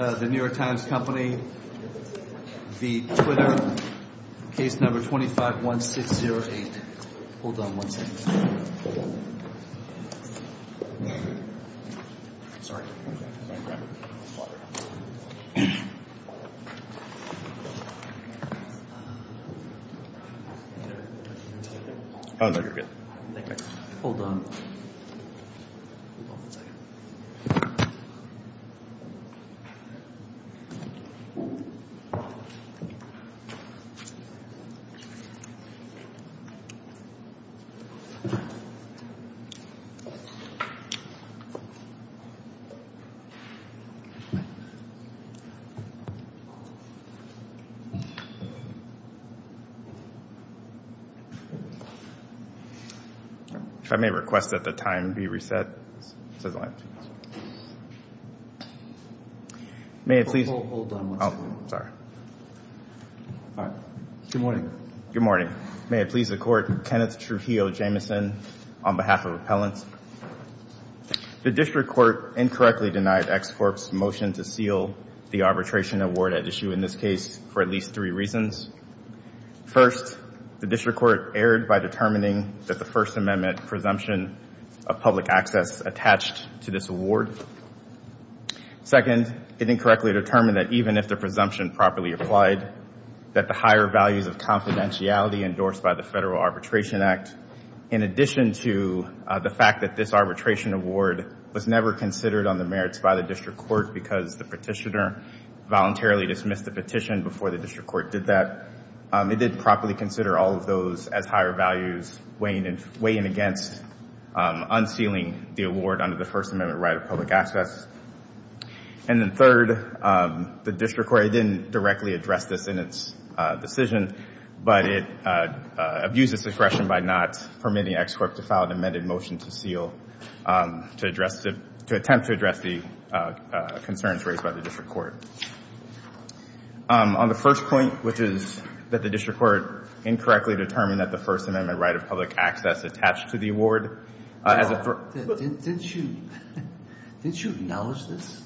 The New York Times Company v. Twitter, Case Number 251608. Hold on one second. Sorry. Oh, no, you're good. Hold on. I may request that the time be reset. May I please... Hold on one second. Oh, sorry. All right. Good morning. Good morning. May it please the Court, Kenneth Trujillo Jamieson on behalf of Appellants. The District Court incorrectly denied Ex Corp's motion to seal the arbitration award at issue in this case for at least three reasons. First, the District Court erred by determining that the First Amendment presumption of public access attached to this award. Second, it incorrectly determined that even if the presumption properly applied, that the higher values of confidentiality endorsed by the Federal Arbitration Act, in addition to the fact that this arbitration award was never considered on the merits by the District Court because the petitioner voluntarily dismissed the petition before the District Court did that, it didn't properly consider all of those as higher values weighing against unsealing the award under the First Amendment right of public access. And then third, the District Court, it didn't directly address this in its decision, but it abused its discretion by not permitting Ex Corp to file an amended motion to seal, to address, to attempt to address the concerns raised by the District Court. On the first point, which is that the District Court incorrectly determined that the First Amendment right of public access attached to the award as a... Didn't you acknowledge this?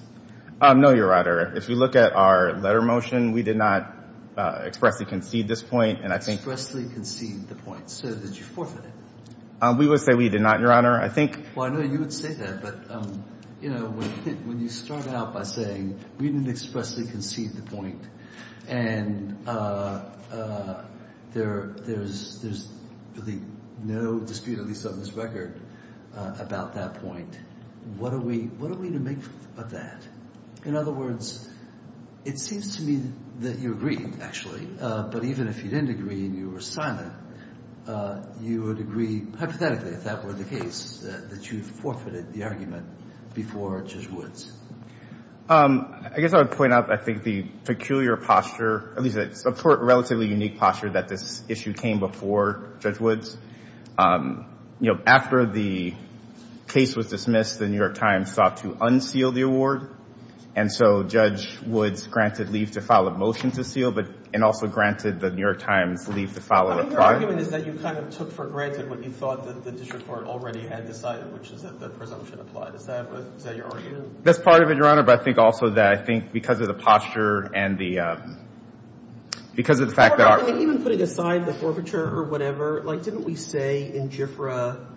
No, Your Honor. If you look at our letter motion, we did not expressly concede this point, and I think... Expressly concede the point. So did you forfeit it? We would say we did not, Your Honor. I think... Well, I know you would say that, but, you know, when you start out by saying we didn't expressly concede the point and there's really no dispute, at least on this record, about that point, what are we to make of that? In other words, it seems to me that you agree, actually, but even if you didn't agree and you were silent, you would agree hypothetically, if that were the case, that you forfeited the argument before Judge Woods. I guess I would point out, I think, the peculiar posture, at least a relatively unique posture that this issue came before Judge Woods. You know, after the case was dismissed, the New York Times sought to unseal the award, and so Judge Woods granted leave to file a motion to seal and also granted the New York Times leave to file a reply. I think your argument is that you kind of took for granted what you thought the District Court already had decided, which is that the presumption applied. Is that your argument? That's part of it, Your Honor, but I think also that I think because of the posture and the – because of the fact that our – Your Honor, even putting aside the forfeiture or whatever, like, didn't we say in GIFRA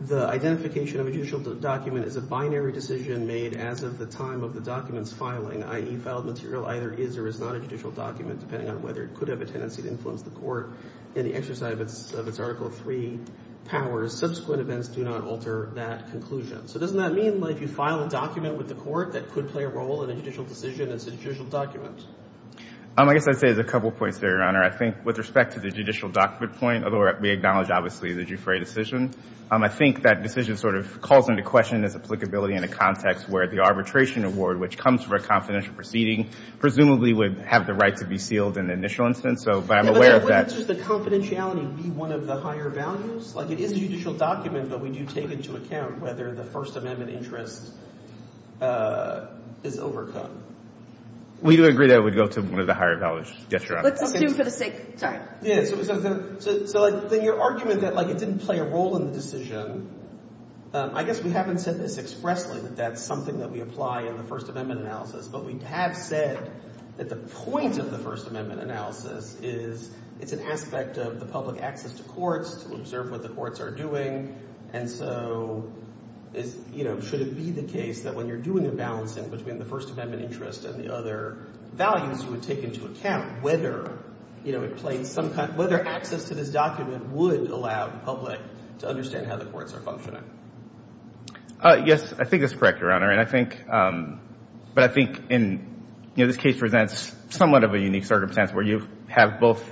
the identification of a judicial document is a binary decision made as of the time of the document's filing, i.e., filed material either is or is not a judicial document, depending on whether it could have a tendency to influence the court in the exercise of its Article III powers. Subsequent events do not alter that conclusion. So doesn't that mean, like, you file a document with the court that could play a role in a judicial decision as a judicial document? I guess I'd say there's a couple points there, Your Honor. I think with respect to the judicial document point, although we acknowledge, obviously, the GIFRA decision, I think that decision sort of calls into question its applicability in a context where the arbitration award, which comes from a confidential proceeding, presumably would have the right to be sealed in the initial instance, so – but I'm aware of that. Yeah, but wouldn't just the confidentiality be one of the higher values? Like, it is a judicial document, but we do take into account whether the First Amendment interest is overcome. We do agree that it would go to one of the higher values. Yes, Your Honor. Let's assume for the sake – sorry. Yeah. So then your argument that, like, it didn't play a role in the decision, I guess we haven't said this expressly, that that's something that we apply in the First Amendment analysis, but we have said that the point of the First Amendment analysis is it's an aspect of the public access to courts to observe what the courts are doing, and so, you know, should it be the case that when you're doing a balancing between the First Amendment interest and the other values you would take into account whether, you know, it plays some – whether access to this document would allow the public to understand how the courts are functioning? Yes, I think that's correct, Your Honor, and I think – but I think in – you know, this case presents somewhat of a unique circumstance where you have both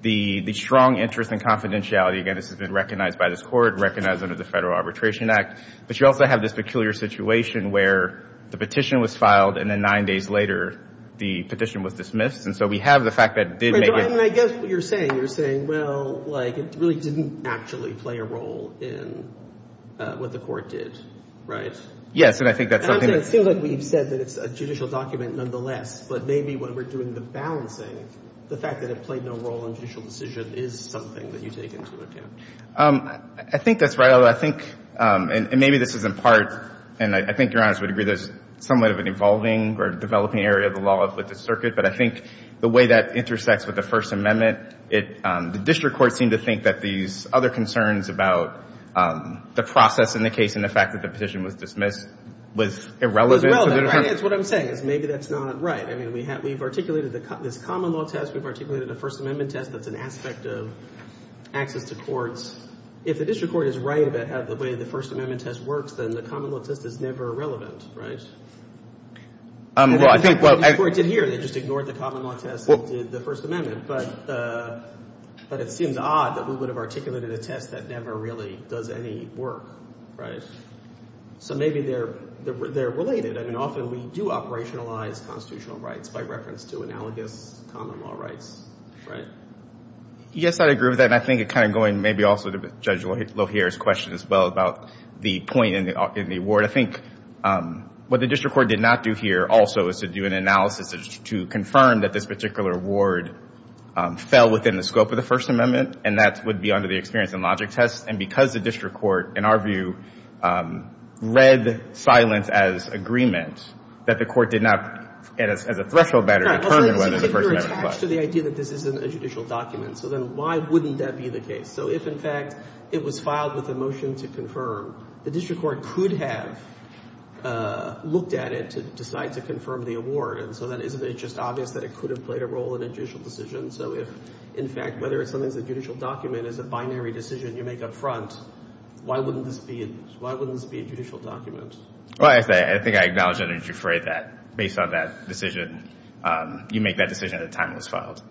the strong interest and confidentiality – again, this has been recognized by this court, recognized under the Federal Arbitration Act – but you also have this peculiar situation where the petition was filed and then nine days later the petition was dismissed, and so we have the fact that it did make it – I guess what you're saying, you're saying, well, like, it really didn't actually play a role in what the court did, right? Yes, and I think that's something that – I'm saying it seems like we've said that it's a judicial document nonetheless, but maybe when we're doing the balancing, the fact that it played no role in judicial decision is something that you take into account. I think that's right, although I think – and maybe this is in part – and I think Your Honor would agree there's somewhat of an evolving or developing area of the law with the circuit, but I think the way that intersects with the First Amendment, the district courts seem to think that these other concerns about the process in the case and the fact that the petition was dismissed was irrelevant. That's what I'm saying, is maybe that's not right. I mean, we've articulated this common law test. We've articulated the First Amendment test. That's an aspect of access to courts. If the district court is right about the way the First Amendment test works, then the common law test is never relevant, right? Well, I think – The court did here. They just ignored the common law test and did the First Amendment, but it seems odd that we would have articulated a test that never really does any work, right? So maybe they're related. I mean, often we do operationalize constitutional rights by reference to analogous common law rights, right? Yes, I agree with that, and I think it kind of – going maybe also to Judge Lohier's question as well about the point in the award. I think what the district court did not do here also is to do an analysis to confirm that this particular award fell within the scope of the First Amendment, and that would be under the experience and logic test. And because the district court, in our view, read silence as agreement, that the court did not, as a threshold matter, determine whether the First Amendment was. I was particularly attached to the idea that this isn't a judicial document. So then why wouldn't that be the case? So if, in fact, it was filed with a motion to confirm, the district court could have looked at it to decide to confirm the award. And so then isn't it just obvious that it could have played a role in a judicial decision? So if, in fact, whether something's a judicial document is a binary decision you make up front, why wouldn't this be a judicial document? Well, I think I acknowledge under Giuffre that based on that decision, you make that decision at the time it was filed.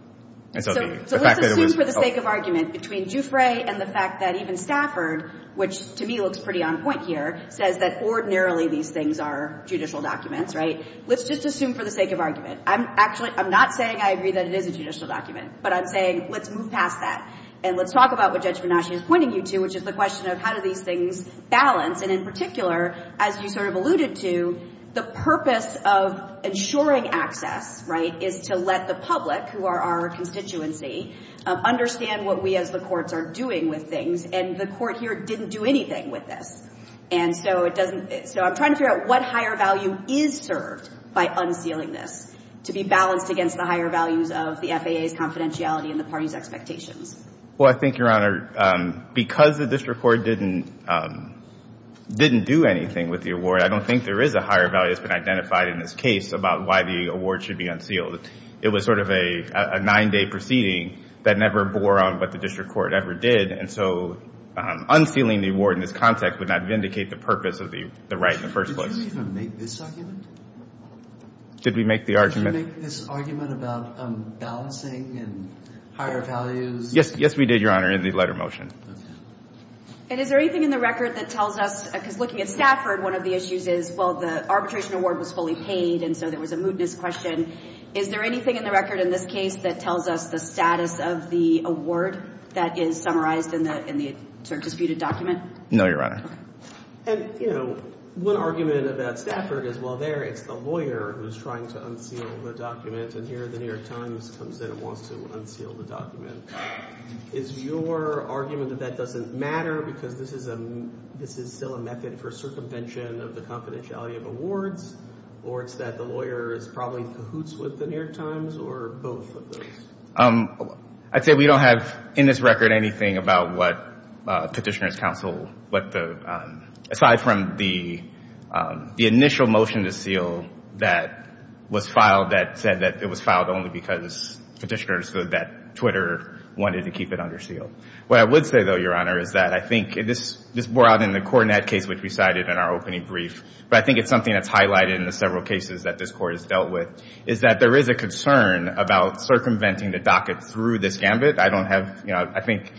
So let's assume for the sake of argument between Giuffre and the fact that even Stafford, which to me looks pretty on point here, says that ordinarily these things are judicial documents, right? Let's just assume for the sake of argument. Actually, I'm not saying I agree that it is a judicial document, but I'm saying let's move past that and let's talk about what Judge Venasi is pointing you to, which is the question of how do these things balance. And in particular, as you sort of alluded to, the purpose of ensuring access, right, is to let the public, who are our constituency, understand what we as the courts are doing with things. And the court here didn't do anything with this. And so I'm trying to figure out what higher value is served by unsealing this to be balanced against the higher values of the FAA's confidentiality and the party's expectations. Well, I think, Your Honor, because the district court didn't do anything with the award, I don't think there is a higher value that's been identified in this case about why the award should be unsealed. It was sort of a nine-day proceeding that never bore on what the district court ever did. And so unsealing the award in this context would not vindicate the purpose of the right in the first place. Did you even make this argument? Did we make the argument? Did you make this argument about balancing and higher values? Yes, we did, Your Honor, in the letter motion. Okay. And is there anything in the record that tells us, because looking at Stafford, one of the issues is, well, the arbitration award was fully paid, and so there was a mootness question. Is there anything in the record in this case that tells us the status of the award that is summarized in the disputed document? No, Your Honor. And, you know, one argument about Stafford is, well, there it's the lawyer who's trying to unseal the document, and here the New York Times comes in and wants to unseal the document. Is your argument that that doesn't matter because this is still a method for circumvention of the confidentiality of awards, or it's that the lawyer probably cahoots with the New York Times, or both of those? I'd say we don't have in this record anything about what Petitioner's Counsel, aside from the initial motion to seal that was filed that said that it was filed only because Petitioner's Counsel, that Twitter wanted to keep it under seal. What I would say, though, Your Honor, is that I think this bore out in the Coronet case which we cited in our opening brief, but I think it's something that's highlighted in the several cases that this Court has dealt with, is that there is a concern about circumventing the docket through this gambit. I don't have, you know, I think,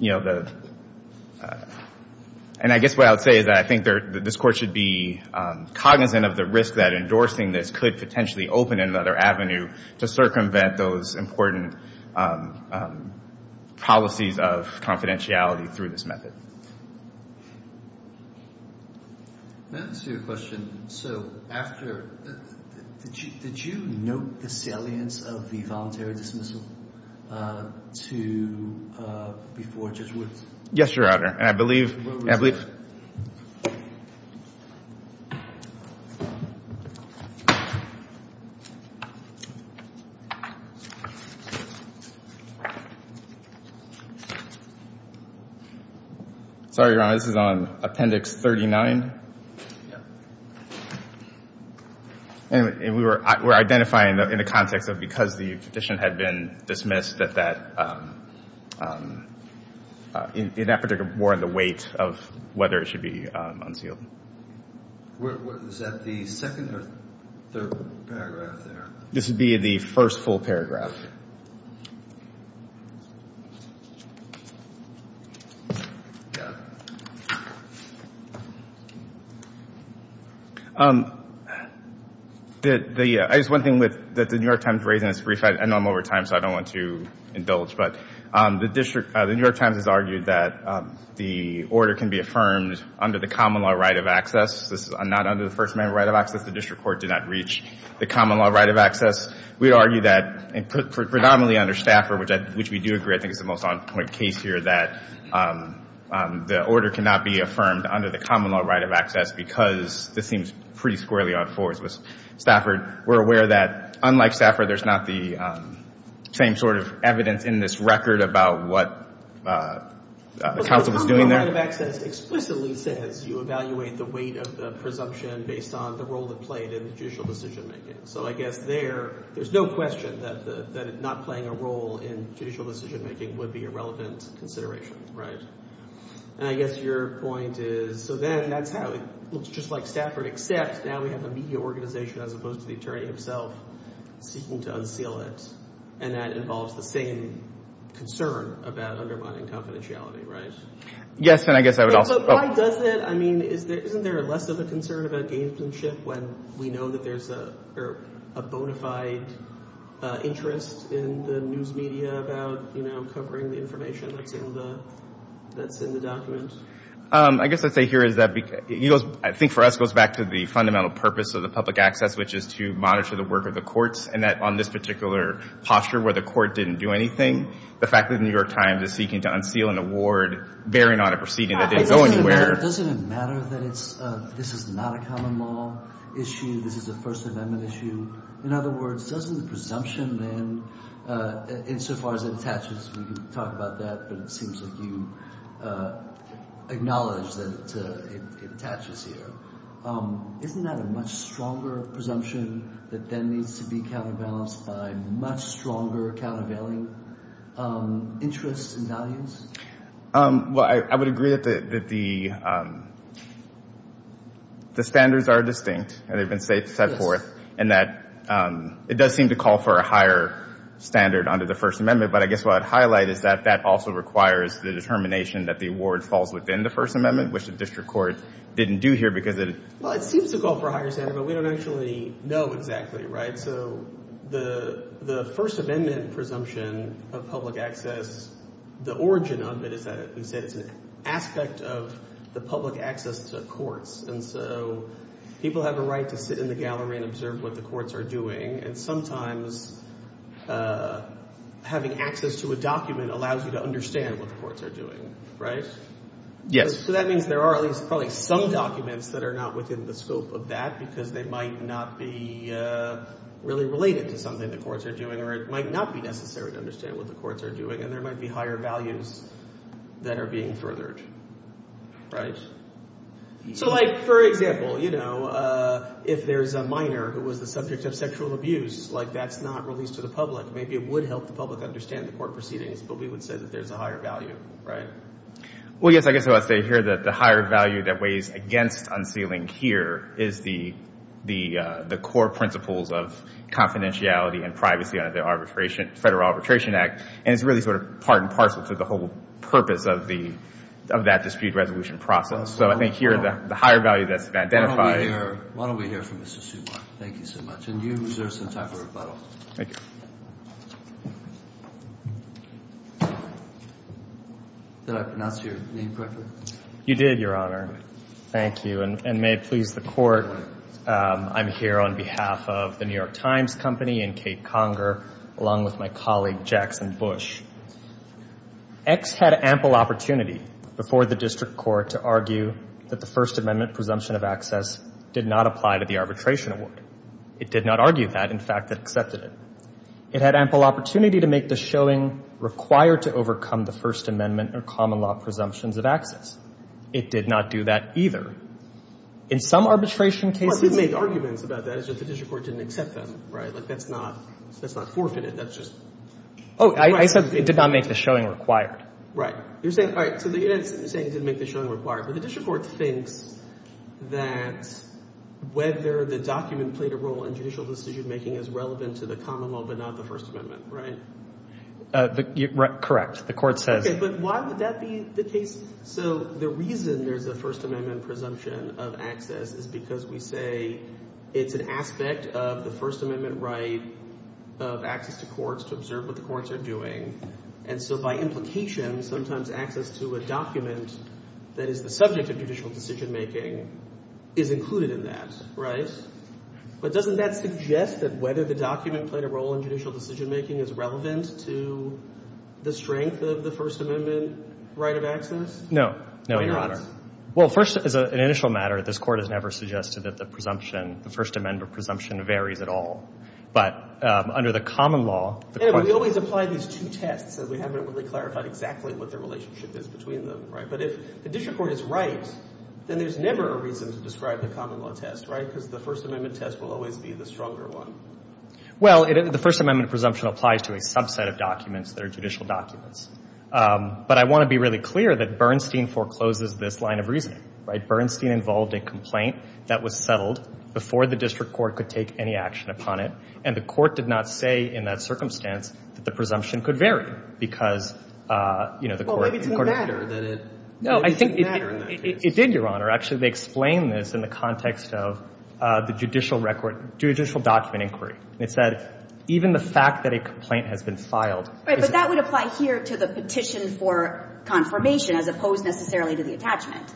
you know, the – and I guess what I would say is that I think this Court should be cognizant of the risk that endorsing this could potentially open another avenue to circumvent those important policies of confidentiality through this method. Let me ask you a question. So after – did you note the salience of the voluntary dismissal to – before Judge Woods? Yes, Your Honor. And I believe – and I believe – Where was that? Sorry, Your Honor, this is on Appendix 39. Yeah. And we were identifying in the context of because the petition had been dismissed that that – in that particular warrant the weight of whether it should be unsealed. Was that the second or third paragraph there? This would be the first full paragraph. I guess one thing that the New York Times raised, and it's brief, I know I'm over time, so I don't want to indulge, but the district – the New York Times has argued that the order can be affirmed under the common law right of access. This is not under the First Amendment right of access. The district court did not reach the common law right of access. We argue that, in principle, the order can be affirmed under the common law right of access. predominantly under Stafford, which we do agree, I think, is the most on-point case here, that the order cannot be affirmed under the common law right of access because this seems pretty squarely on fours. With Stafford, we're aware that, unlike Stafford, there's not the same sort of evidence in this record about what the counsel was doing there. Well, the common law right of access explicitly says you evaluate the weight of the presumption based on the role it played in the judicial decision-making. So I guess there, there's no question that not playing a role in judicial decision-making would be a relevant consideration, right? And I guess your point is, so then that's how it looks just like Stafford, except now we have a media organization as opposed to the attorney himself seeking to unseal it, and that involves the same concern about undermining confidentiality, right? Yes, and I guess I would also – Why does it? I mean, isn't there less of a concern about gamesmanship when we know that there's a bona fide interest in the news media about, you know, covering the information that's in the document? I guess what I'd say here is that I think for us it goes back to the fundamental purpose of the public access, which is to monitor the work of the courts, and that on this particular posture where the court didn't do anything, the fact that the New York Times is seeking to unseal an award bearing on a proceeding that didn't go anywhere. Doesn't it matter that it's – this is not a common law issue? This is a First Amendment issue? In other words, doesn't the presumption then, insofar as it attaches – we can talk about that, but it seems like you acknowledge that it attaches here. Isn't that a much stronger presumption that then needs to be counterbalanced by much stronger countervailing interests and values? Well, I would agree that the standards are distinct and they've been set forth, and that it does seem to call for a higher standard under the First Amendment, but I guess what I'd highlight is that that also requires the determination that the award falls within the First Amendment, which the district court didn't do here because it – Well, it seems to call for a higher standard, but we don't actually know exactly, right? So the First Amendment presumption of public access, the origin of it is that it's an aspect of the public access to courts, and so people have a right to sit in the gallery and observe what the courts are doing, and sometimes having access to a document allows you to understand what the courts are doing, right? Yes. So that means there are at least probably some documents that are not within the scope of that because they might not be really related to something the courts are doing or it might not be necessary to understand what the courts are doing, and there might be higher values that are being furthered, right? So, like, for example, you know, if there's a minor who was the subject of sexual abuse, like, that's not released to the public. Maybe it would help the public understand the court proceedings, but we would say that there's a higher value, right? Well, yes, I guess I would say here that the higher value that weighs against unsealing here is the core principles of confidentiality and privacy under the Federal Arbitration Act, and it's really sort of part and parcel to the whole purpose of that dispute resolution process. So I think here the higher value that's been identified— Why don't we hear from Mr. Suba? Thank you so much. And you reserve some time for rebuttal. Thank you. Did I pronounce your name correctly? You did, Your Honor. Thank you, and may it please the Court, I'm here on behalf of The New York Times Company and Kate Conger, along with my colleague, Jackson Bush. X had ample opportunity before the district court to argue that the First Amendment presumption of access did not apply to the arbitration award. It did not argue that, in fact, it accepted it. It had ample opportunity to make the showing required to overcome the First Amendment or common law presumptions of access. It did not do that either. In some arbitration cases— Well, it did make arguments about that, it's just the district court didn't accept them, right? Like, that's not forfeited, that's just— Oh, I said it did not make the showing required. Right. You're saying—all right, so you're saying it didn't make the showing required, but the district court thinks that whether the document played a role in judicial decision-making is relevant to the common law but not the First Amendment, right? Correct. The Court says— Okay, but why would that be the case? So the reason there's a First Amendment presumption of access is because we say it's an aspect of the First Amendment right of access to courts to observe what the courts are doing. And so by implication, sometimes access to a document that is the subject of judicial decision-making is included in that, right? But doesn't that suggest that whether the document played a role in judicial decision-making is relevant to the strength of the First Amendment right of access? No. No, Your Honor. Well, first, as an initial matter, this Court has never suggested that the presumption, the First Amendment presumption, varies at all. But under the common law— Anyway, we always apply these two tests, as we haven't really clarified exactly what the relationship is between them, right? But if the district court is right, then there's never a reason to describe the common law test, right? Because the First Amendment test will always be the stronger one. Well, the First Amendment presumption applies to a subset of documents that are judicial documents. But I want to be really clear that Bernstein forecloses this line of reasoning, right? Bernstein involved a complaint that was settled before the district court could take any action upon it, and the court did not say in that circumstance that the presumption could vary because, you know, the court— Well, maybe it didn't matter that it— No, I think it did, Your Honor. Actually, they explain this in the context of the judicial record—judicial document inquiry. It said, even the fact that a complaint has been filed— Right, but that would apply here to the petition for confirmation, as opposed necessarily to the attachment,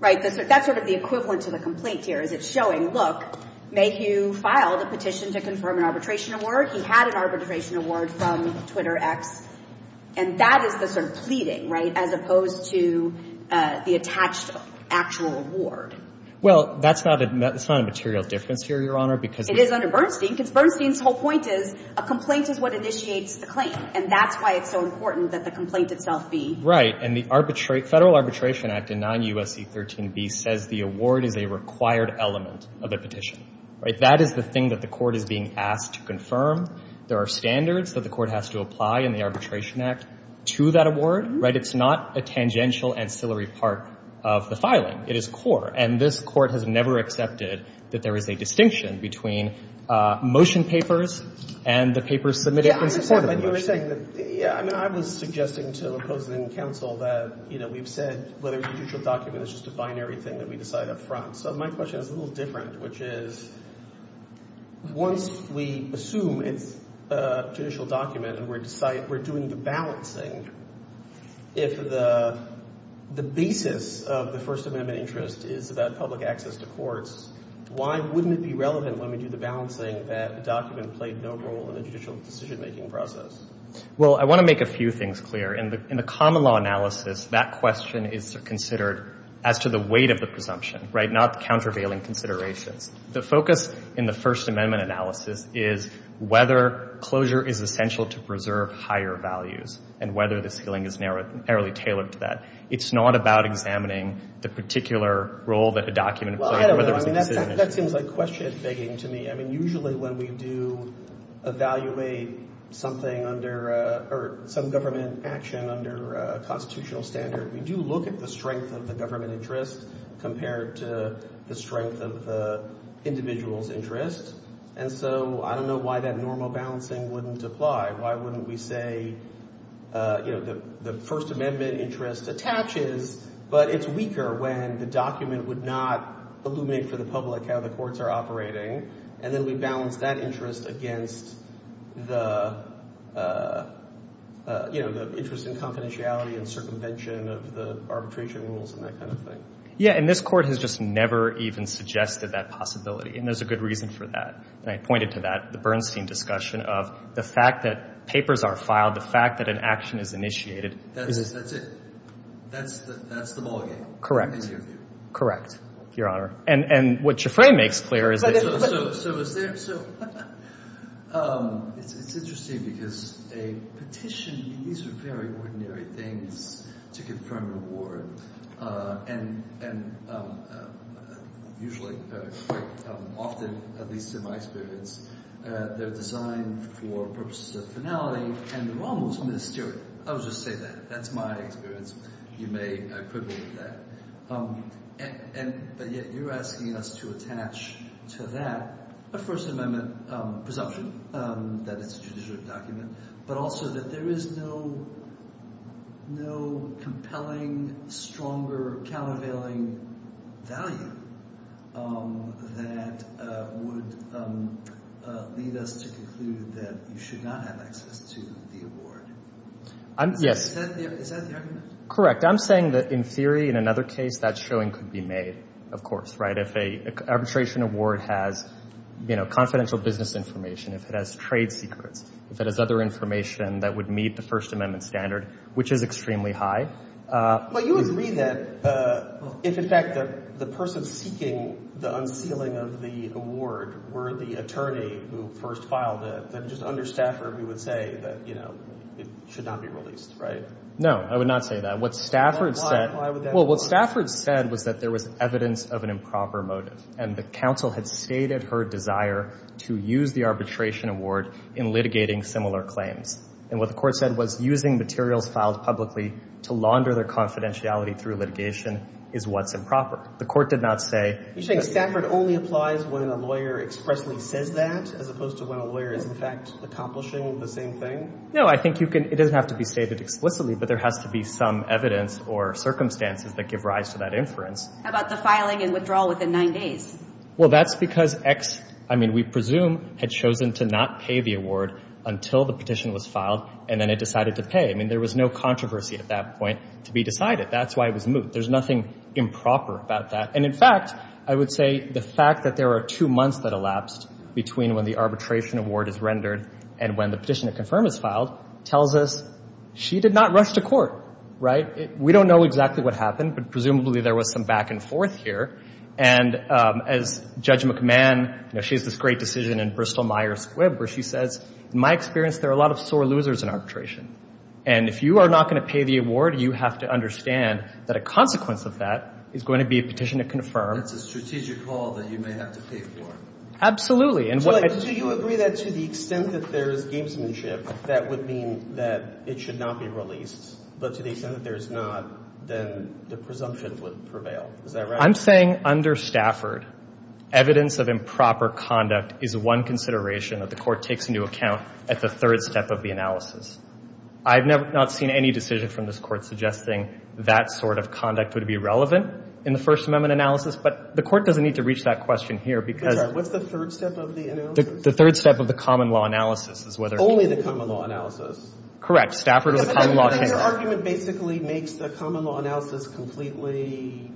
right? That's sort of the equivalent to the complaint here, is it's showing, look, Mayhew filed a petition to confirm an arbitration award. He had an arbitration award from TwitterX. And that is the sort of pleading, right, as opposed to the attached actual award. Well, that's not a material difference here, Your Honor, because— It is under Bernstein, because Bernstein's whole point is a complaint is what initiates the claim, and that's why it's so important that the complaint itself be— Right, and the Federal Arbitration Act in 9 U.S.C. 13b says the award is a required element of a petition, right? That is the thing that the court is being asked to confirm. There are standards that the court has to apply in the Arbitration Act to that award, right? It's not a tangential ancillary part of the filing. It is core. And this court has never accepted that there is a distinction between motion papers and the papers submitted in support of the motion. Yeah, I was suggesting to the opposing counsel that, you know, we've said whether a judicial document is just a binary thing that we decide up front. So my question is a little different, which is once we assume it's a judicial document and we're doing the balancing, if the basis of the First Amendment interest is about public access to courts, why wouldn't it be relevant when we do the balancing that the document played no role in the judicial decision-making process? Well, I want to make a few things clear. In the common law analysis, that question is considered as to the weight of the presumption, right? Not the countervailing considerations. The focus in the First Amendment analysis is whether closure is essential to preserve higher values and whether the ceiling is narrowly tailored to that. It's not about examining the particular role that a document played. Well, I don't know. I mean, that seems like question begging to me. I mean, usually when we do evaluate something under or some government action under a constitutional standard, we do look at the strength of the government interest compared to the strength of the individual's interest. And so I don't know why that normal balancing wouldn't apply. Why wouldn't we say, you know, the First Amendment interest attaches, but it's weaker when the document would not illuminate for the public how the courts are operating, and then we balance that interest against the, you know, the interest in confidentiality and circumvention of the arbitration rules and that kind of thing. Yeah. And this Court has just never even suggested that possibility, and there's a good reason for that. And I pointed to that, the Bernstein discussion of the fact that papers are filed, the fact that an action is initiated. That's it. That's the ballgame. Correct. Correct, Your Honor. And what Schifrin makes clear is that— So is there—so it's interesting because a petition, these are very ordinary things to give firm reward, and usually quite often, at least in my experience, they're designed for purposes of finality, and they're almost mysterious. I'll just say that. That's my experience. You may equivalent that. But yet you're asking us to attach to that a First Amendment presumption that it's a judicial document, but also that there is no compelling, stronger, countervailing value that would lead us to conclude that you should not have access to the award. Yes. Is that the argument? Correct. I'm saying that in theory, in another case, that showing could be made, of course, right? If an arbitration award has, you know, confidential business information, if it has trade secrets, if it has other information that would meet the First Amendment standard, which is extremely high. But you would agree that if, in fact, the person seeking the unsealing of the award were the attorney who first filed it, then just under staffer, we would say that, you know, it should not be released, right? No, I would not say that. What Stafford said was that there was evidence of an improper motive, and the counsel had stated her desire to use the arbitration award in litigating similar claims. And what the court said was using materials filed publicly to launder their confidentiality through litigation is what's improper. The court did not say— You're saying Stafford only applies when a lawyer expressly says that, as opposed to when a lawyer is, in fact, accomplishing the same thing? No, I think you can—it doesn't have to be stated explicitly, but there has to be some evidence or circumstances that give rise to that inference. How about the filing and withdrawal within nine days? Well, that's because X, I mean, we presume, had chosen to not pay the award until the petition was filed, and then it decided to pay. I mean, there was no controversy at that point to be decided. That's why it was moot. There's nothing improper about that. And, in fact, I would say the fact that there are two months that elapsed between when the arbitration award is rendered and when the petition to confirm is filed tells us she did not rush to court, right? We don't know exactly what happened, but presumably there was some back and forth here. And as Judge McMahon—you know, she has this great decision in Bristol-Myers Squibb where she says, in my experience, there are a lot of sore losers in arbitration. And if you are not going to pay the award, you have to understand that a consequence of that is going to be a petition to confirm. That's a strategic call that you may have to pay for. Absolutely. Do you agree that to the extent that there is gamesmanship, that would mean that it should not be released, but to the extent that there is not, then the presumption would prevail? Is that right? I'm saying under Stafford, evidence of improper conduct is one consideration that the Court takes into account at the third step of the analysis. I have not seen any decision from this Court suggesting that sort of conduct would be relevant in the First Amendment analysis, but the Court doesn't need to reach that question here because— What's the third step of the analysis? The third step of the common law analysis is whether— Only the common law analysis. Correct. Stafford or the common law analysis. Your argument basically makes the common law analysis completely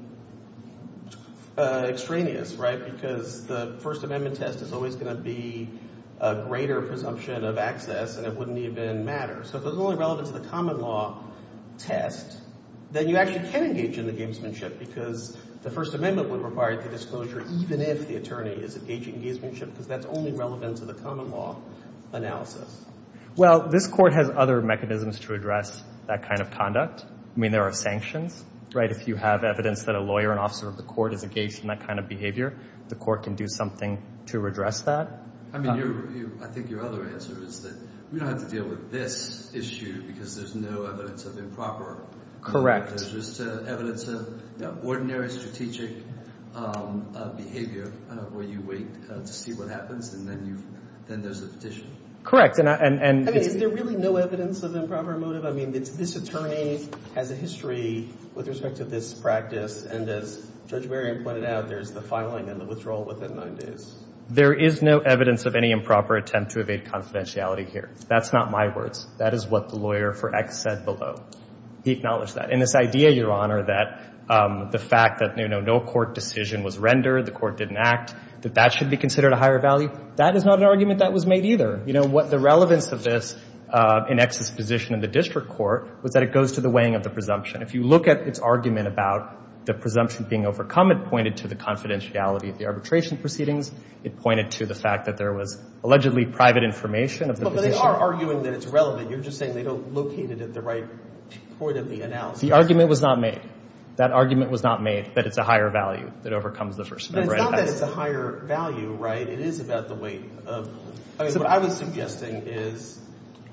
extraneous, right, because the First Amendment test is always going to be a greater presumption of access, and it wouldn't even matter. So if it's only relevant to the common law test, then you actually can engage in the gamesmanship because the First Amendment would require the disclosure even if the attorney is engaging in gamesmanship because that's only relevant to the common law analysis. Well, this Court has other mechanisms to address that kind of conduct. I mean, there are sanctions, right? If you have evidence that a lawyer, an officer of the Court, is engaged in that kind of behavior, the Court can do something to redress that. I mean, I think your other answer is that we don't have to deal with this issue because there's no evidence of improper— Correct. There's just evidence of ordinary strategic behavior where you wait to see what happens, and then there's a petition. Correct, and— I mean, is there really no evidence of improper motive? I mean, this attorney has a history with respect to this practice, and as Judge Merriam pointed out, there's the filing and the withdrawal within nine days. There is no evidence of any improper attempt to evade confidentiality here. That's not my words. That is what the lawyer for X said below. He acknowledged that. And this idea, Your Honor, that the fact that, you know, no court decision was rendered, the Court didn't act, that that should be considered a higher value, that is not an argument that was made either. You know, the relevance of this in X's position in the district court was that it goes to the weighing of the presumption. If you look at its argument about the presumption being overcome, it pointed to the confidentiality of the arbitration proceedings. It pointed to the fact that there was allegedly private information of the position. But they are arguing that it's relevant. You're just saying they don't locate it at the right point of the analysis. The argument was not made. That argument was not made that it's a higher value that overcomes the presumption. But it's not that it's a higher value, right? It is about the weight. I mean, what I was suggesting is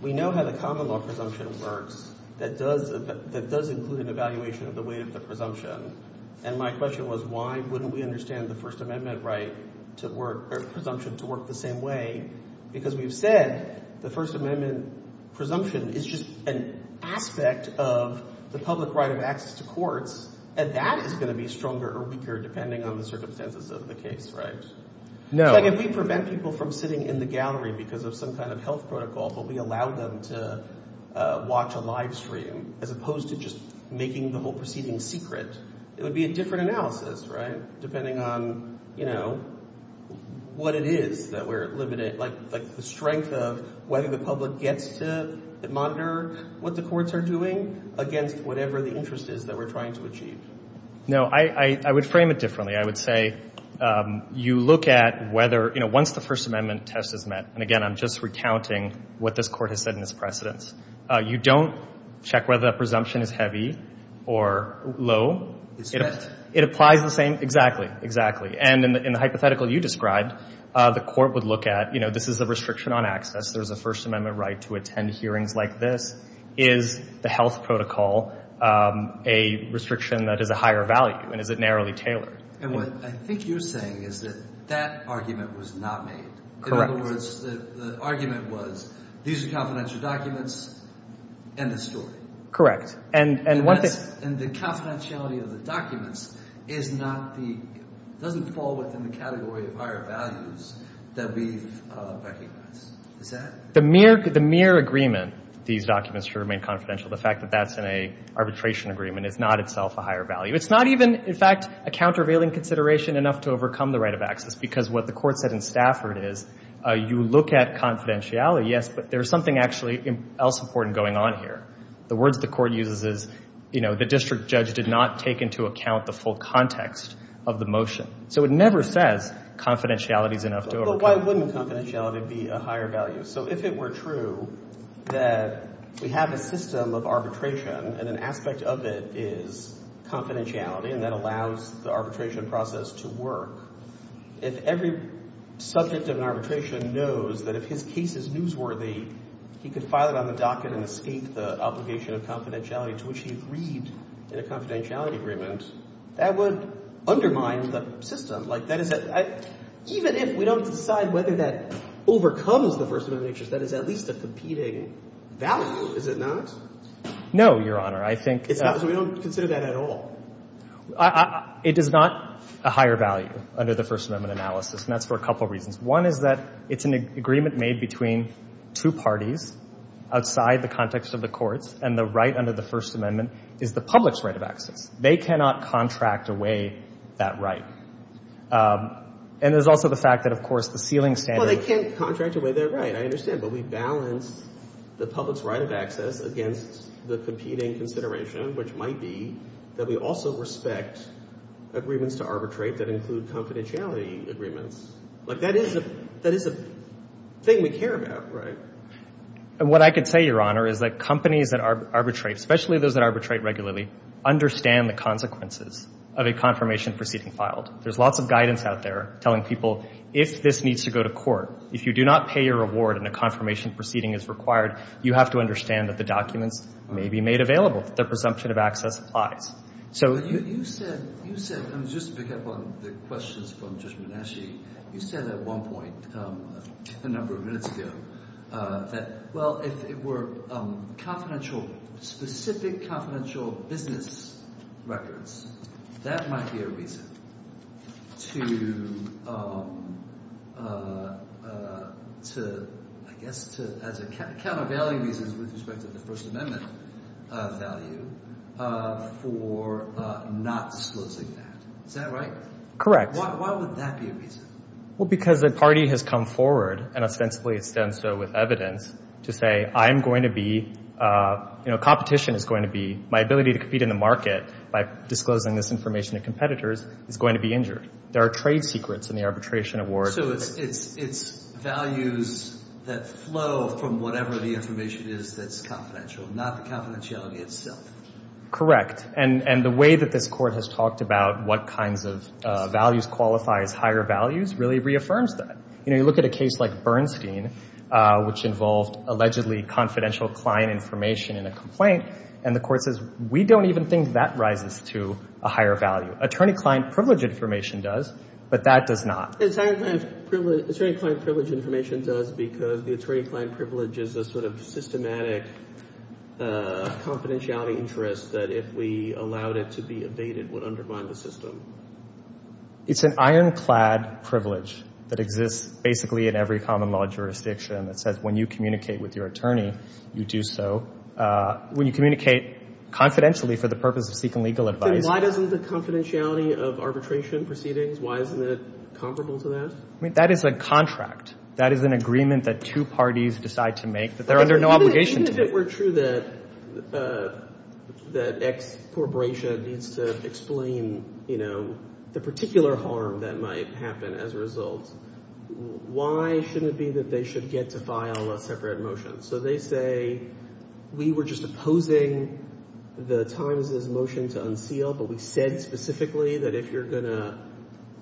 we know how the common law presumption works that does include an evaluation of the weight of the presumption. And my question was why wouldn't we understand the First Amendment right to work or presumption to work the same way? Because we've said the First Amendment presumption is just an aspect of the public right of access to courts, and that is going to be stronger or weaker depending on the circumstances of the case, right? So if we prevent people from sitting in the gallery because of some kind of health protocol, but we allow them to watch a live stream as opposed to just making the whole proceeding secret, it would be a different analysis, right, depending on, you know, what it is that we're limiting, like the strength of whether the public gets to monitor what the courts are doing against whatever the interest is that we're trying to achieve. No, I would frame it differently. I would say you look at whether, you know, once the First Amendment test is met, and, again, I'm just recounting what this court has said in its precedence, you don't check whether the presumption is heavy or low. It's met. It applies the same. Exactly, exactly. And in the hypothetical you described, the court would look at, you know, this is a restriction on access. There's a First Amendment right to attend hearings like this. Is the health protocol a restriction that is a higher value, and is it narrowly tailored? And what I think you're saying is that that argument was not made. Correct. In other words, the argument was these are confidential documents, end of story. Correct. And the confidentiality of the documents is not the – doesn't fall within the category of higher values that we've recognized. Is that? The mere agreement, these documents should remain confidential, the fact that that's in an arbitration agreement is not itself a higher value. It's not even, in fact, a countervailing consideration enough to overcome the right of access because what the court said in Stafford is you look at confidentiality, yes, but there's something actually else important going on here. The words the court uses is, you know, the district judge did not take into account the full context of the motion. So it never says confidentiality is enough to overcome. But why wouldn't confidentiality be a higher value? So if it were true that we have a system of arbitration and an aspect of it is confidentiality and that allows the arbitration process to work, if every subject of an arbitration knows that if his case is newsworthy, he could file it on the docket and escape the obligation of confidentiality to which he agreed in a confidentiality agreement, that would undermine the system. Like, that is a – even if we don't decide whether that overcomes the First Amendment interest, that is at least a competing value, is it not? No, Your Honor. I think – So we don't consider that at all? It is not a higher value under the First Amendment analysis, and that's for a couple reasons. One is that it's an agreement made between two parties outside the context of the courts, and the right under the First Amendment is the public's right of access. They cannot contract away that right. And there's also the fact that, of course, the ceiling standard – Well, they can't contract away their right, I understand. But we balance the public's right of access against the competing consideration, which might be that we also respect agreements to arbitrate that include confidentiality agreements. Like, that is a – that is a thing we care about, right? What I can say, Your Honor, is that companies that arbitrate, especially those that arbitrate regularly, understand the consequences of a confirmation proceeding filed. There's lots of guidance out there telling people if this needs to go to court, if you do not pay your reward and a confirmation proceeding is required, you have to understand that the documents may be made available, that the presumption of access applies. So you said – you said – and just to pick up on the questions from Judge Minasci, you said at one point a number of minutes ago that, well, if it were confidential – specific confidential business records, that might be a reason to, I guess, to – with respect to the First Amendment value for not disclosing that. Is that right? Correct. Why would that be a reason? Well, because a party has come forward, and ostensibly it's done so with evidence, to say I'm going to be – you know, competition is going to be – my ability to compete in the market by disclosing this information to competitors is going to be injured. There are trade secrets in the arbitration award. So it's values that flow from whatever the information is that's confidential, not the confidentiality itself. Correct. And the way that this Court has talked about what kinds of values qualify as higher values really reaffirms that. You know, you look at a case like Bernstein, which involved allegedly confidential client information in a complaint, and the Court says we don't even think that rises to a higher value. Attorney-client privilege information does, but that does not. Attorney-client privilege information does because the attorney-client privilege is a sort of systematic confidentiality interest that if we allowed it to be evaded would undermine the system. It's an ironclad privilege that exists basically in every common law jurisdiction that says when you communicate with your attorney, you do so. When you communicate confidentially for the purpose of seeking legal advice. Why doesn't the confidentiality of arbitration proceedings, why isn't it comparable to that? I mean, that is a contract. That is an agreement that two parties decide to make that they're under no obligation to make. Even if it were true that X corporation needs to explain, you know, the particular harm that might happen as a result, why shouldn't it be that they should get to file a separate motion? So they say we were just opposing the Times' motion to unseal, but we said specifically that if you're going to,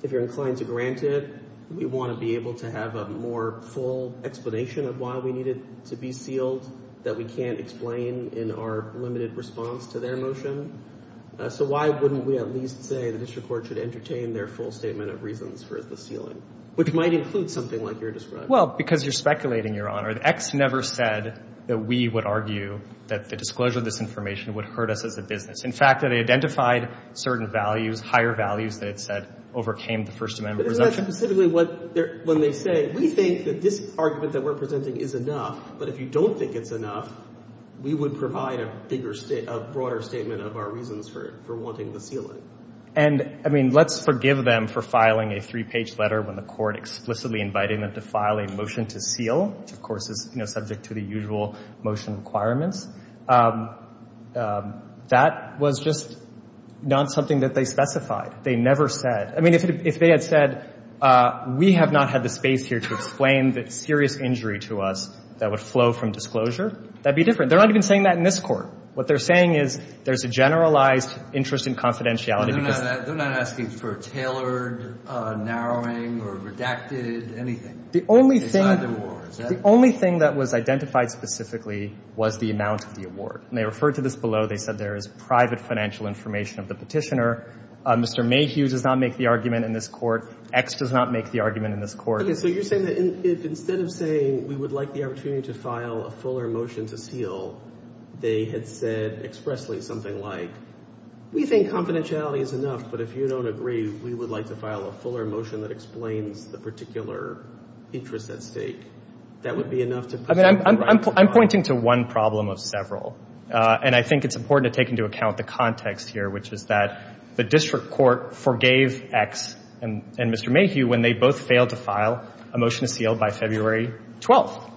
if you're inclined to grant it, we want to be able to have a more full explanation of why we need it to be sealed that we can't explain in our limited response to their motion. So why wouldn't we at least say the district court should entertain their full statement of reasons for the sealing? Which might include something like you're describing. Well, because you're speculating, Your Honor. X never said that we would argue that the disclosure of this information would hurt us as a business. In fact, they identified certain values, higher values, that it said overcame the First Amendment presumption. But isn't that specifically when they say we think that this argument that we're presenting is enough, but if you don't think it's enough, we would provide a bigger, a broader statement of our reasons for wanting to seal it. And, I mean, let's forgive them for filing a three-page letter when the court explicitly invited them to file a motion to seal, which, of course, is, you know, subject to the usual motion requirements. That was just not something that they specified. They never said. I mean, if they had said we have not had the space here to explain the serious injury to us that would flow from disclosure, that would be different. They're not even saying that in this court. What they're saying is there's a generalized interest in confidentiality. They're not asking for a tailored narrowing or redacted anything. The only thing that was identified specifically was the amount of the award. And they referred to this below. They said there is private financial information of the petitioner. Mr. Mayhew does not make the argument in this court. X does not make the argument in this court. So you're saying that instead of saying we would like the opportunity to file a fuller motion to seal, they had said expressly something like we think confidentiality is enough, but if you don't agree, we would like to file a fuller motion that explains the particular interest at stake. That would be enough to put something right? I'm pointing to one problem of several. And I think it's important to take into account the context here, which is that the district court forgave X and Mr. Mayhew when they both failed to file a motion to seal by February 12th.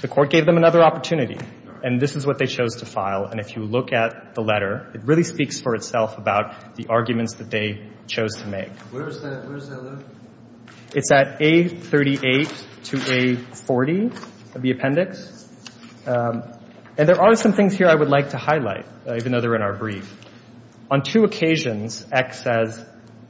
The court gave them another opportunity. And this is what they chose to file. And if you look at the letter, it really speaks for itself about the arguments that they chose to make. Where is that letter? It's at A38 to A40 of the appendix. And there are some things here I would like to highlight, even though they're in our brief. On two occasions, X says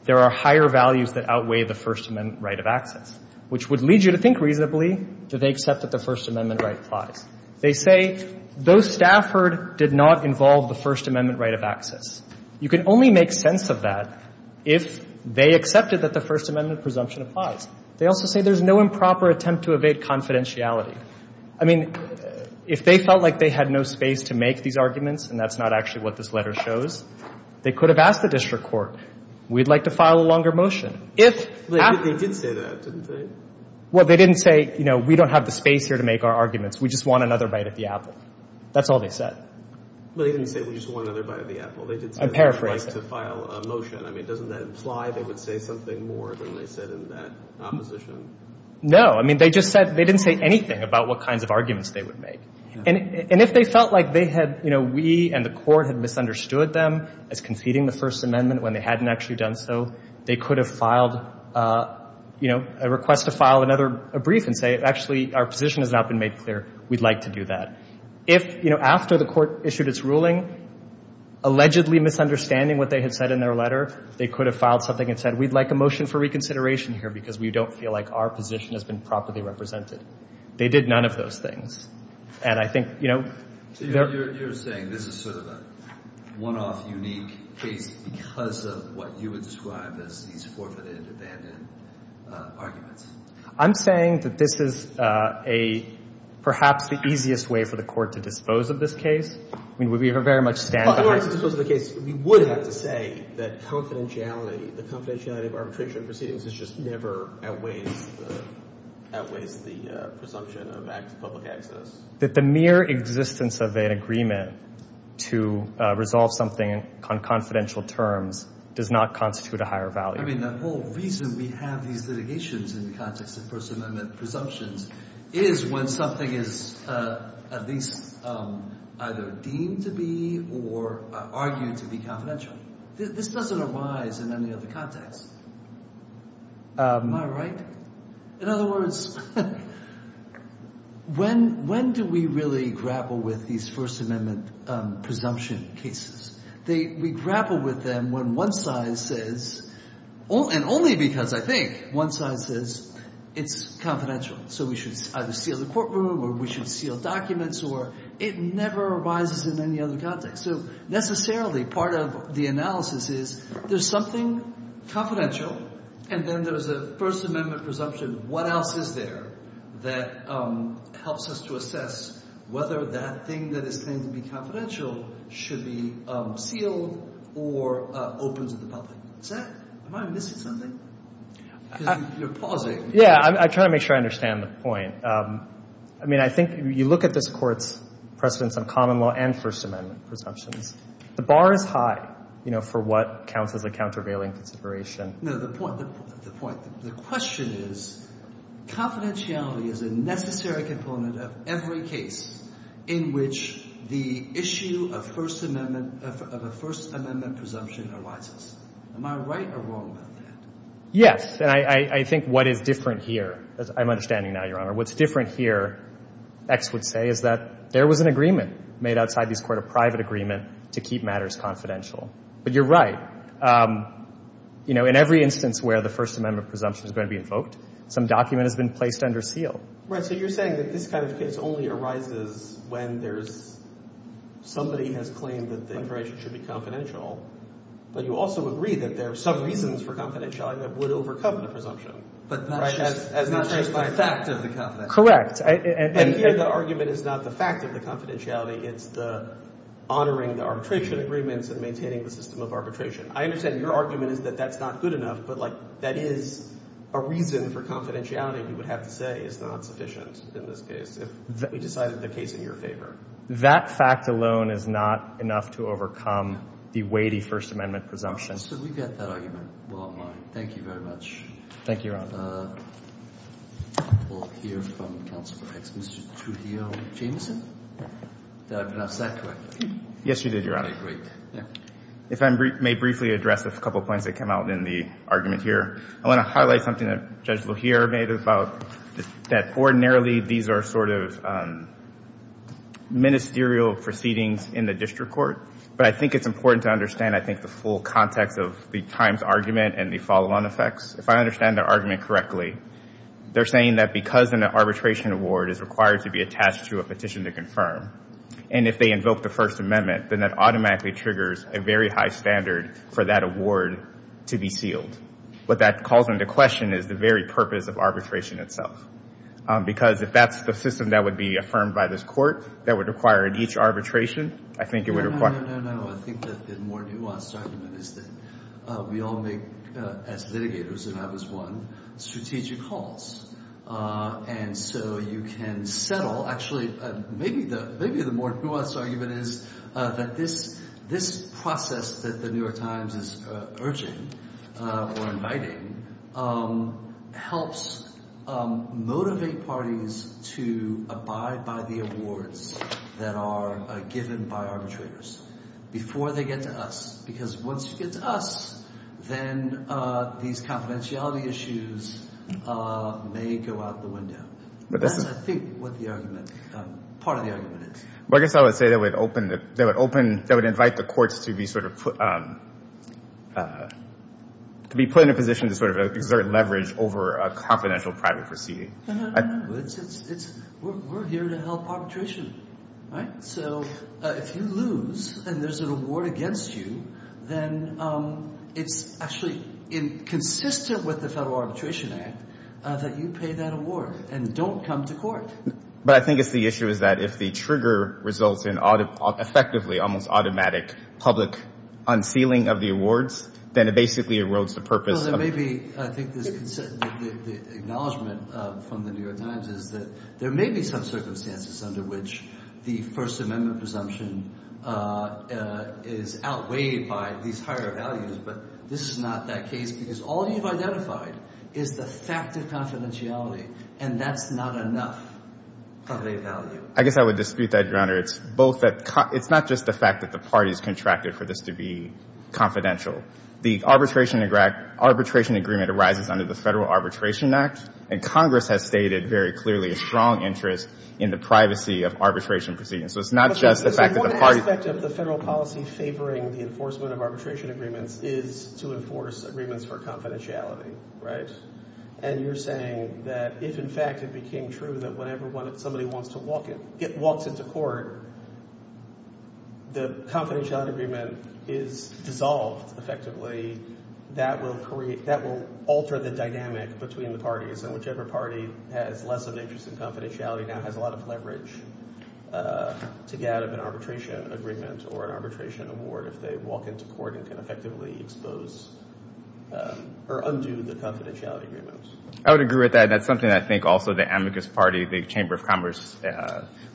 there are higher values that outweigh the First Amendment right of access, which would lead you to think reasonably, do they accept that the First Amendment right applies? They say, though Stafford did not involve the First Amendment right of access, you can only make sense of that if they accepted that the First Amendment presumption applies. They also say there's no improper attempt to evade confidentiality. I mean, if they felt like they had no space to make these arguments, and that's not actually what this letter shows, they could have asked the district court, we'd like to file a longer motion. But they did say that, didn't they? Well, they didn't say, you know, we don't have the space here to make our arguments. We just want another bite of the apple. That's all they said. But they didn't say we just want another bite of the apple. They did say they'd like to file a motion. I mean, doesn't that imply they would say something more than they said in that opposition? No. I mean, they just said they didn't say anything about what kinds of arguments they would make. And if they felt like they had, you know, we and the court had misunderstood them as when they hadn't actually done so, they could have filed, you know, a request to file another brief and say, actually, our position has not been made clear. We'd like to do that. If, you know, after the court issued its ruling, allegedly misunderstanding what they had said in their letter, they could have filed something and said, we'd like a motion for reconsideration here because we don't feel like our position has been properly represented. They did none of those things. And I think, you know. So you're saying this is sort of a one-off, unique case because of what you would describe as these forfeited and abandoned arguments? I'm saying that this is a perhaps the easiest way for the court to dispose of this case. I mean, we very much stand behind it. Well, in order to dispose of the case, we would have to say that confidentiality, the confidentiality of arbitration proceedings is just never outweighs the presumption of public access. That the mere existence of an agreement to resolve something on confidential terms does not constitute a higher value. I mean, the whole reason we have these litigations in the context of First Amendment presumptions is when something is at least either deemed to be or argued to be confidential. This doesn't arise in any other context. Am I right? In other words, when do we really grapple with these First Amendment presumption cases? We grapple with them when one side says, and only because I think one side says it's confidential. So we should either seal the courtroom or we should seal documents or it never arises in any other context. So necessarily part of the analysis is there's something confidential and then there's a First Amendment presumption. What else is there that helps us to assess whether that thing that is claimed to be confidential should be sealed or open to the public? Am I missing something? Because you're pausing. Yeah, I'm trying to make sure I understand the point. I mean, I think you look at this Court's precedence on common law and First Amendment presumptions. The bar is high for what counts as a countervailing consideration. No, the point, the point, the question is confidentiality is a necessary component of every case in which the issue of First Amendment, of a First Amendment presumption arises. Am I right or wrong about that? Yes. And I think what is different here, I'm understanding now, Your Honor, what's different here, X would say, is that there was an agreement made outside this Court, a private agreement, to keep matters confidential. But you're right. You know, in every instance where the First Amendment presumption is going to be invoked, some document has been placed under seal. So you're saying that this kind of case only arises when there's, somebody has claimed that the information should be confidential. But you also agree that there are some reasons for confidentiality that would overcome the presumption. But that's just the fact of the confidentiality. Correct. And here the argument is not the fact of the confidentiality. It's the honoring the arbitration agreements and maintaining the system of I understand your argument is that that's not good enough, but, like, that is a reason for confidentiality, you would have to say, is not sufficient in this case, if we decided the case in your favor. That fact alone is not enough to overcome the weighty First Amendment presumption. So we get that argument. Well, thank you very much. Thank you, Your Honor. We'll hear from Counselor X. Mr. Trujillo-Jameson? Did I pronounce that correctly? Yes, you did, Your Honor. Okay, great. If I may briefly address a couple of points that came out in the argument here. I want to highlight something that Judge Lajere made about that ordinarily, these are sort of ministerial proceedings in the district court. But I think it's important to understand, I think, the full context of the Times argument and the follow-on effects. If I understand their argument correctly, they're saying that because an arbitration award is required to be attached to a petition to confirm, and if they invoke the First Amendment, then that automatically triggers a very high standard for that award to be sealed. What that calls into question is the very purpose of arbitration itself. Because if that's the system that would be affirmed by this court, that would require each arbitration, I think it would require— No, no, no, no, no. I think that the more nuanced argument is that we all make, as litigators, and I was one, strategic calls. And so you can settle—actually, maybe the more nuanced argument is that this process that The New York Times is urging, or inviting, helps motivate parties to abide by the awards that are given by arbitrators before they get to us. Because once you get to us, then these confidentiality issues may go out the window. That's, I think, what the argument—part of the argument is. Well, I guess I would say that would open—that would open—that would invite the courts to be sort of put—to be put in a position to sort of exert leverage over a confidential private proceeding. No, no, no, no. It's—we're here to help arbitration, right? So if you lose and there's an award against you, then it's actually consistent with the Federal Arbitration Act that you pay that award and don't come to court. But I think it's the issue is that if the trigger results in effectively almost automatic public unsealing of the awards, then it basically erodes the purpose of— Well, there may be—I think there's—the acknowledgment from The New York Times is that there may be some circumstances under which the First Amendment presumption is outweighed by these higher values, but this is not that case because all you've identified is the fact of confidentiality, and that's not enough of a value. I guess I would dispute that, Your Honor. It's both that—it's not just the fact that the parties contracted for this to be confidential. The arbitration—arbitration agreement arises under the Federal Arbitration Act, and Congress has stated very clearly a strong interest in the privacy of arbitration proceedings. So it's not just the fact that the parties— But one aspect of the federal policy favoring the enforcement of arbitration agreements is to enforce agreements for confidentiality, right? And you're saying that if, in fact, it became true that whenever somebody wants to walk in— walks into court, the confidentiality agreement is dissolved effectively. That will create—that will alter the dynamic between the parties, and whichever party has less of an interest in confidentiality now has a lot of leverage to get out of an arbitration agreement or an arbitration award if they walk into court and can effectively expose—or undo the confidentiality agreement. I would agree with that, and that's something I think also the amicus party, the Chamber of Commerce,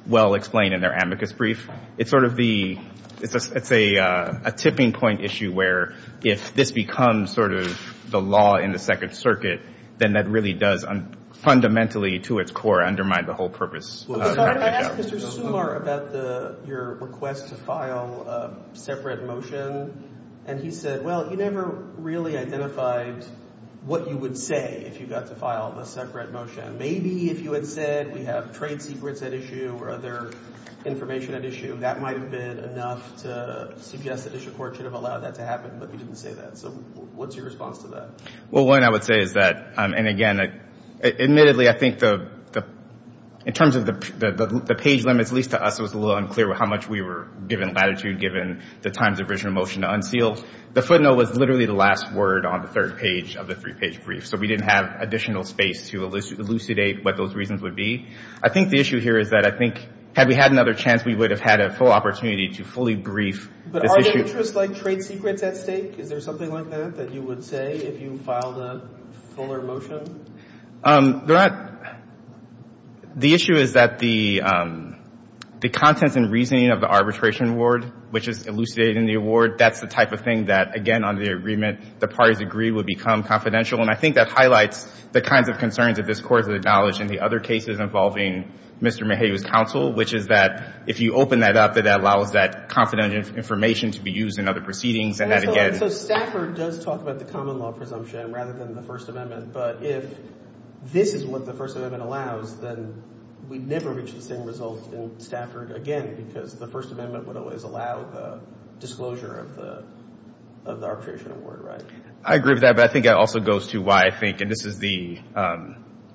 well explained in their amicus brief. It's sort of the—it's a tipping point issue where if this becomes sort of the law in the Second Circuit, then that really does fundamentally, to its core, undermine the whole purpose of the job. I asked Mr. Sumar about your request to file a separate motion, and he said, well, you never really identified what you would say if you got to file a separate motion. Maybe if you had said we have trade secrets at issue or other information at issue, that might have been enough to suggest that issue court should have allowed that to happen, but you didn't say that. So what's your response to that? Well, one I would say is that—and again, admittedly, I think the—in terms of the page limits, at least to us it was a little unclear how much we were given latitude, given the times of original motion to unseal. The footnote was literally the last word on the third page of the three-page brief, so we didn't have additional space to elucidate what those reasons would be. I think the issue here is that I think had we had another chance, we would have had a full opportunity to fully brief this issue. But are there interests like trade secrets at stake? Is there something like that that you would say if you filed a fuller motion? They're not—the issue is that the contents and reasoning of the arbitration award, which is elucidated in the award, that's the type of thing that, again, the parties agreed would become confidential, and I think that highlights the kinds of concerns that this Court has acknowledged in the other cases involving Mr. Maheu's counsel, which is that if you open that up, it allows that confidential information to be used in other proceedings, and that again— So Stafford does talk about the common law presumption rather than the First Amendment, but if this is what the First Amendment allows, then we'd never reach the same results in Stafford again, because the First Amendment would always allow the disclosure of the arbitration award, right? I agree with that, but I think it also goes to why I think— and this is the,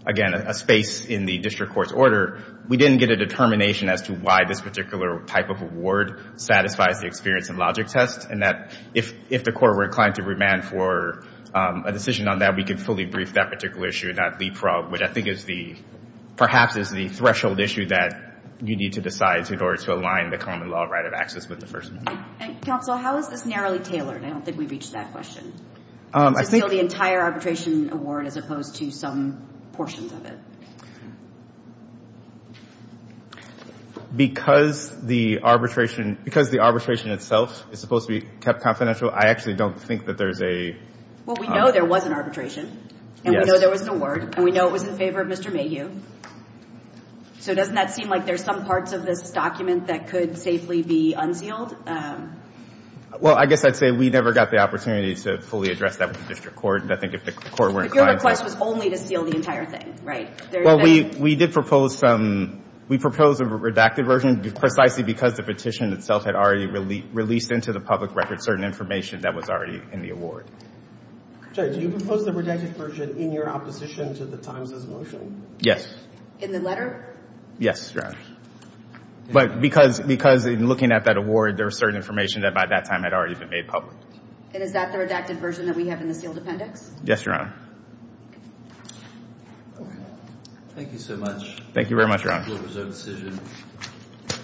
again, a space in the district court's order. We didn't get a determination as to why this particular type of award satisfies the experience and logic test, and that if the Court were inclined to remand for a decision on that, we could fully brief that particular issue and not leapfrog, which I think is the—perhaps is the threshold issue that you need to decide in order to align the common law right of access with the First Amendment. And, counsel, how is this narrowly tailored? I don't think we've reached that question. I think— To seal the entire arbitration award as opposed to some portions of it. Because the arbitration—because the arbitration itself is supposed to be kept confidential, I actually don't think that there's a— Well, we know there was an arbitration. Yes. And we know there was an award, and we know it was in favor of Mr. Maheu. So doesn't that seem like there's some parts of this document that could safely be unsealed? Well, I guess I'd say we never got the opportunity to fully address that with the district court. And I think if the court were inclined to— But your request was only to seal the entire thing, right? Well, we did propose some—we proposed a redacted version, precisely because the petition itself had already released into the public record certain information that was already in the award. Judge, do you propose the redacted version in your opposition to the Times' motion? Yes. In the letter? Yes, Your Honor. But because in looking at that award, there was certain information that by that time had already been made public. And is that the redacted version that we have in the sealed appendix? Yes, Your Honor. Thank you so much. Thank you very much, Your Honor. Thank you for your resolute decision.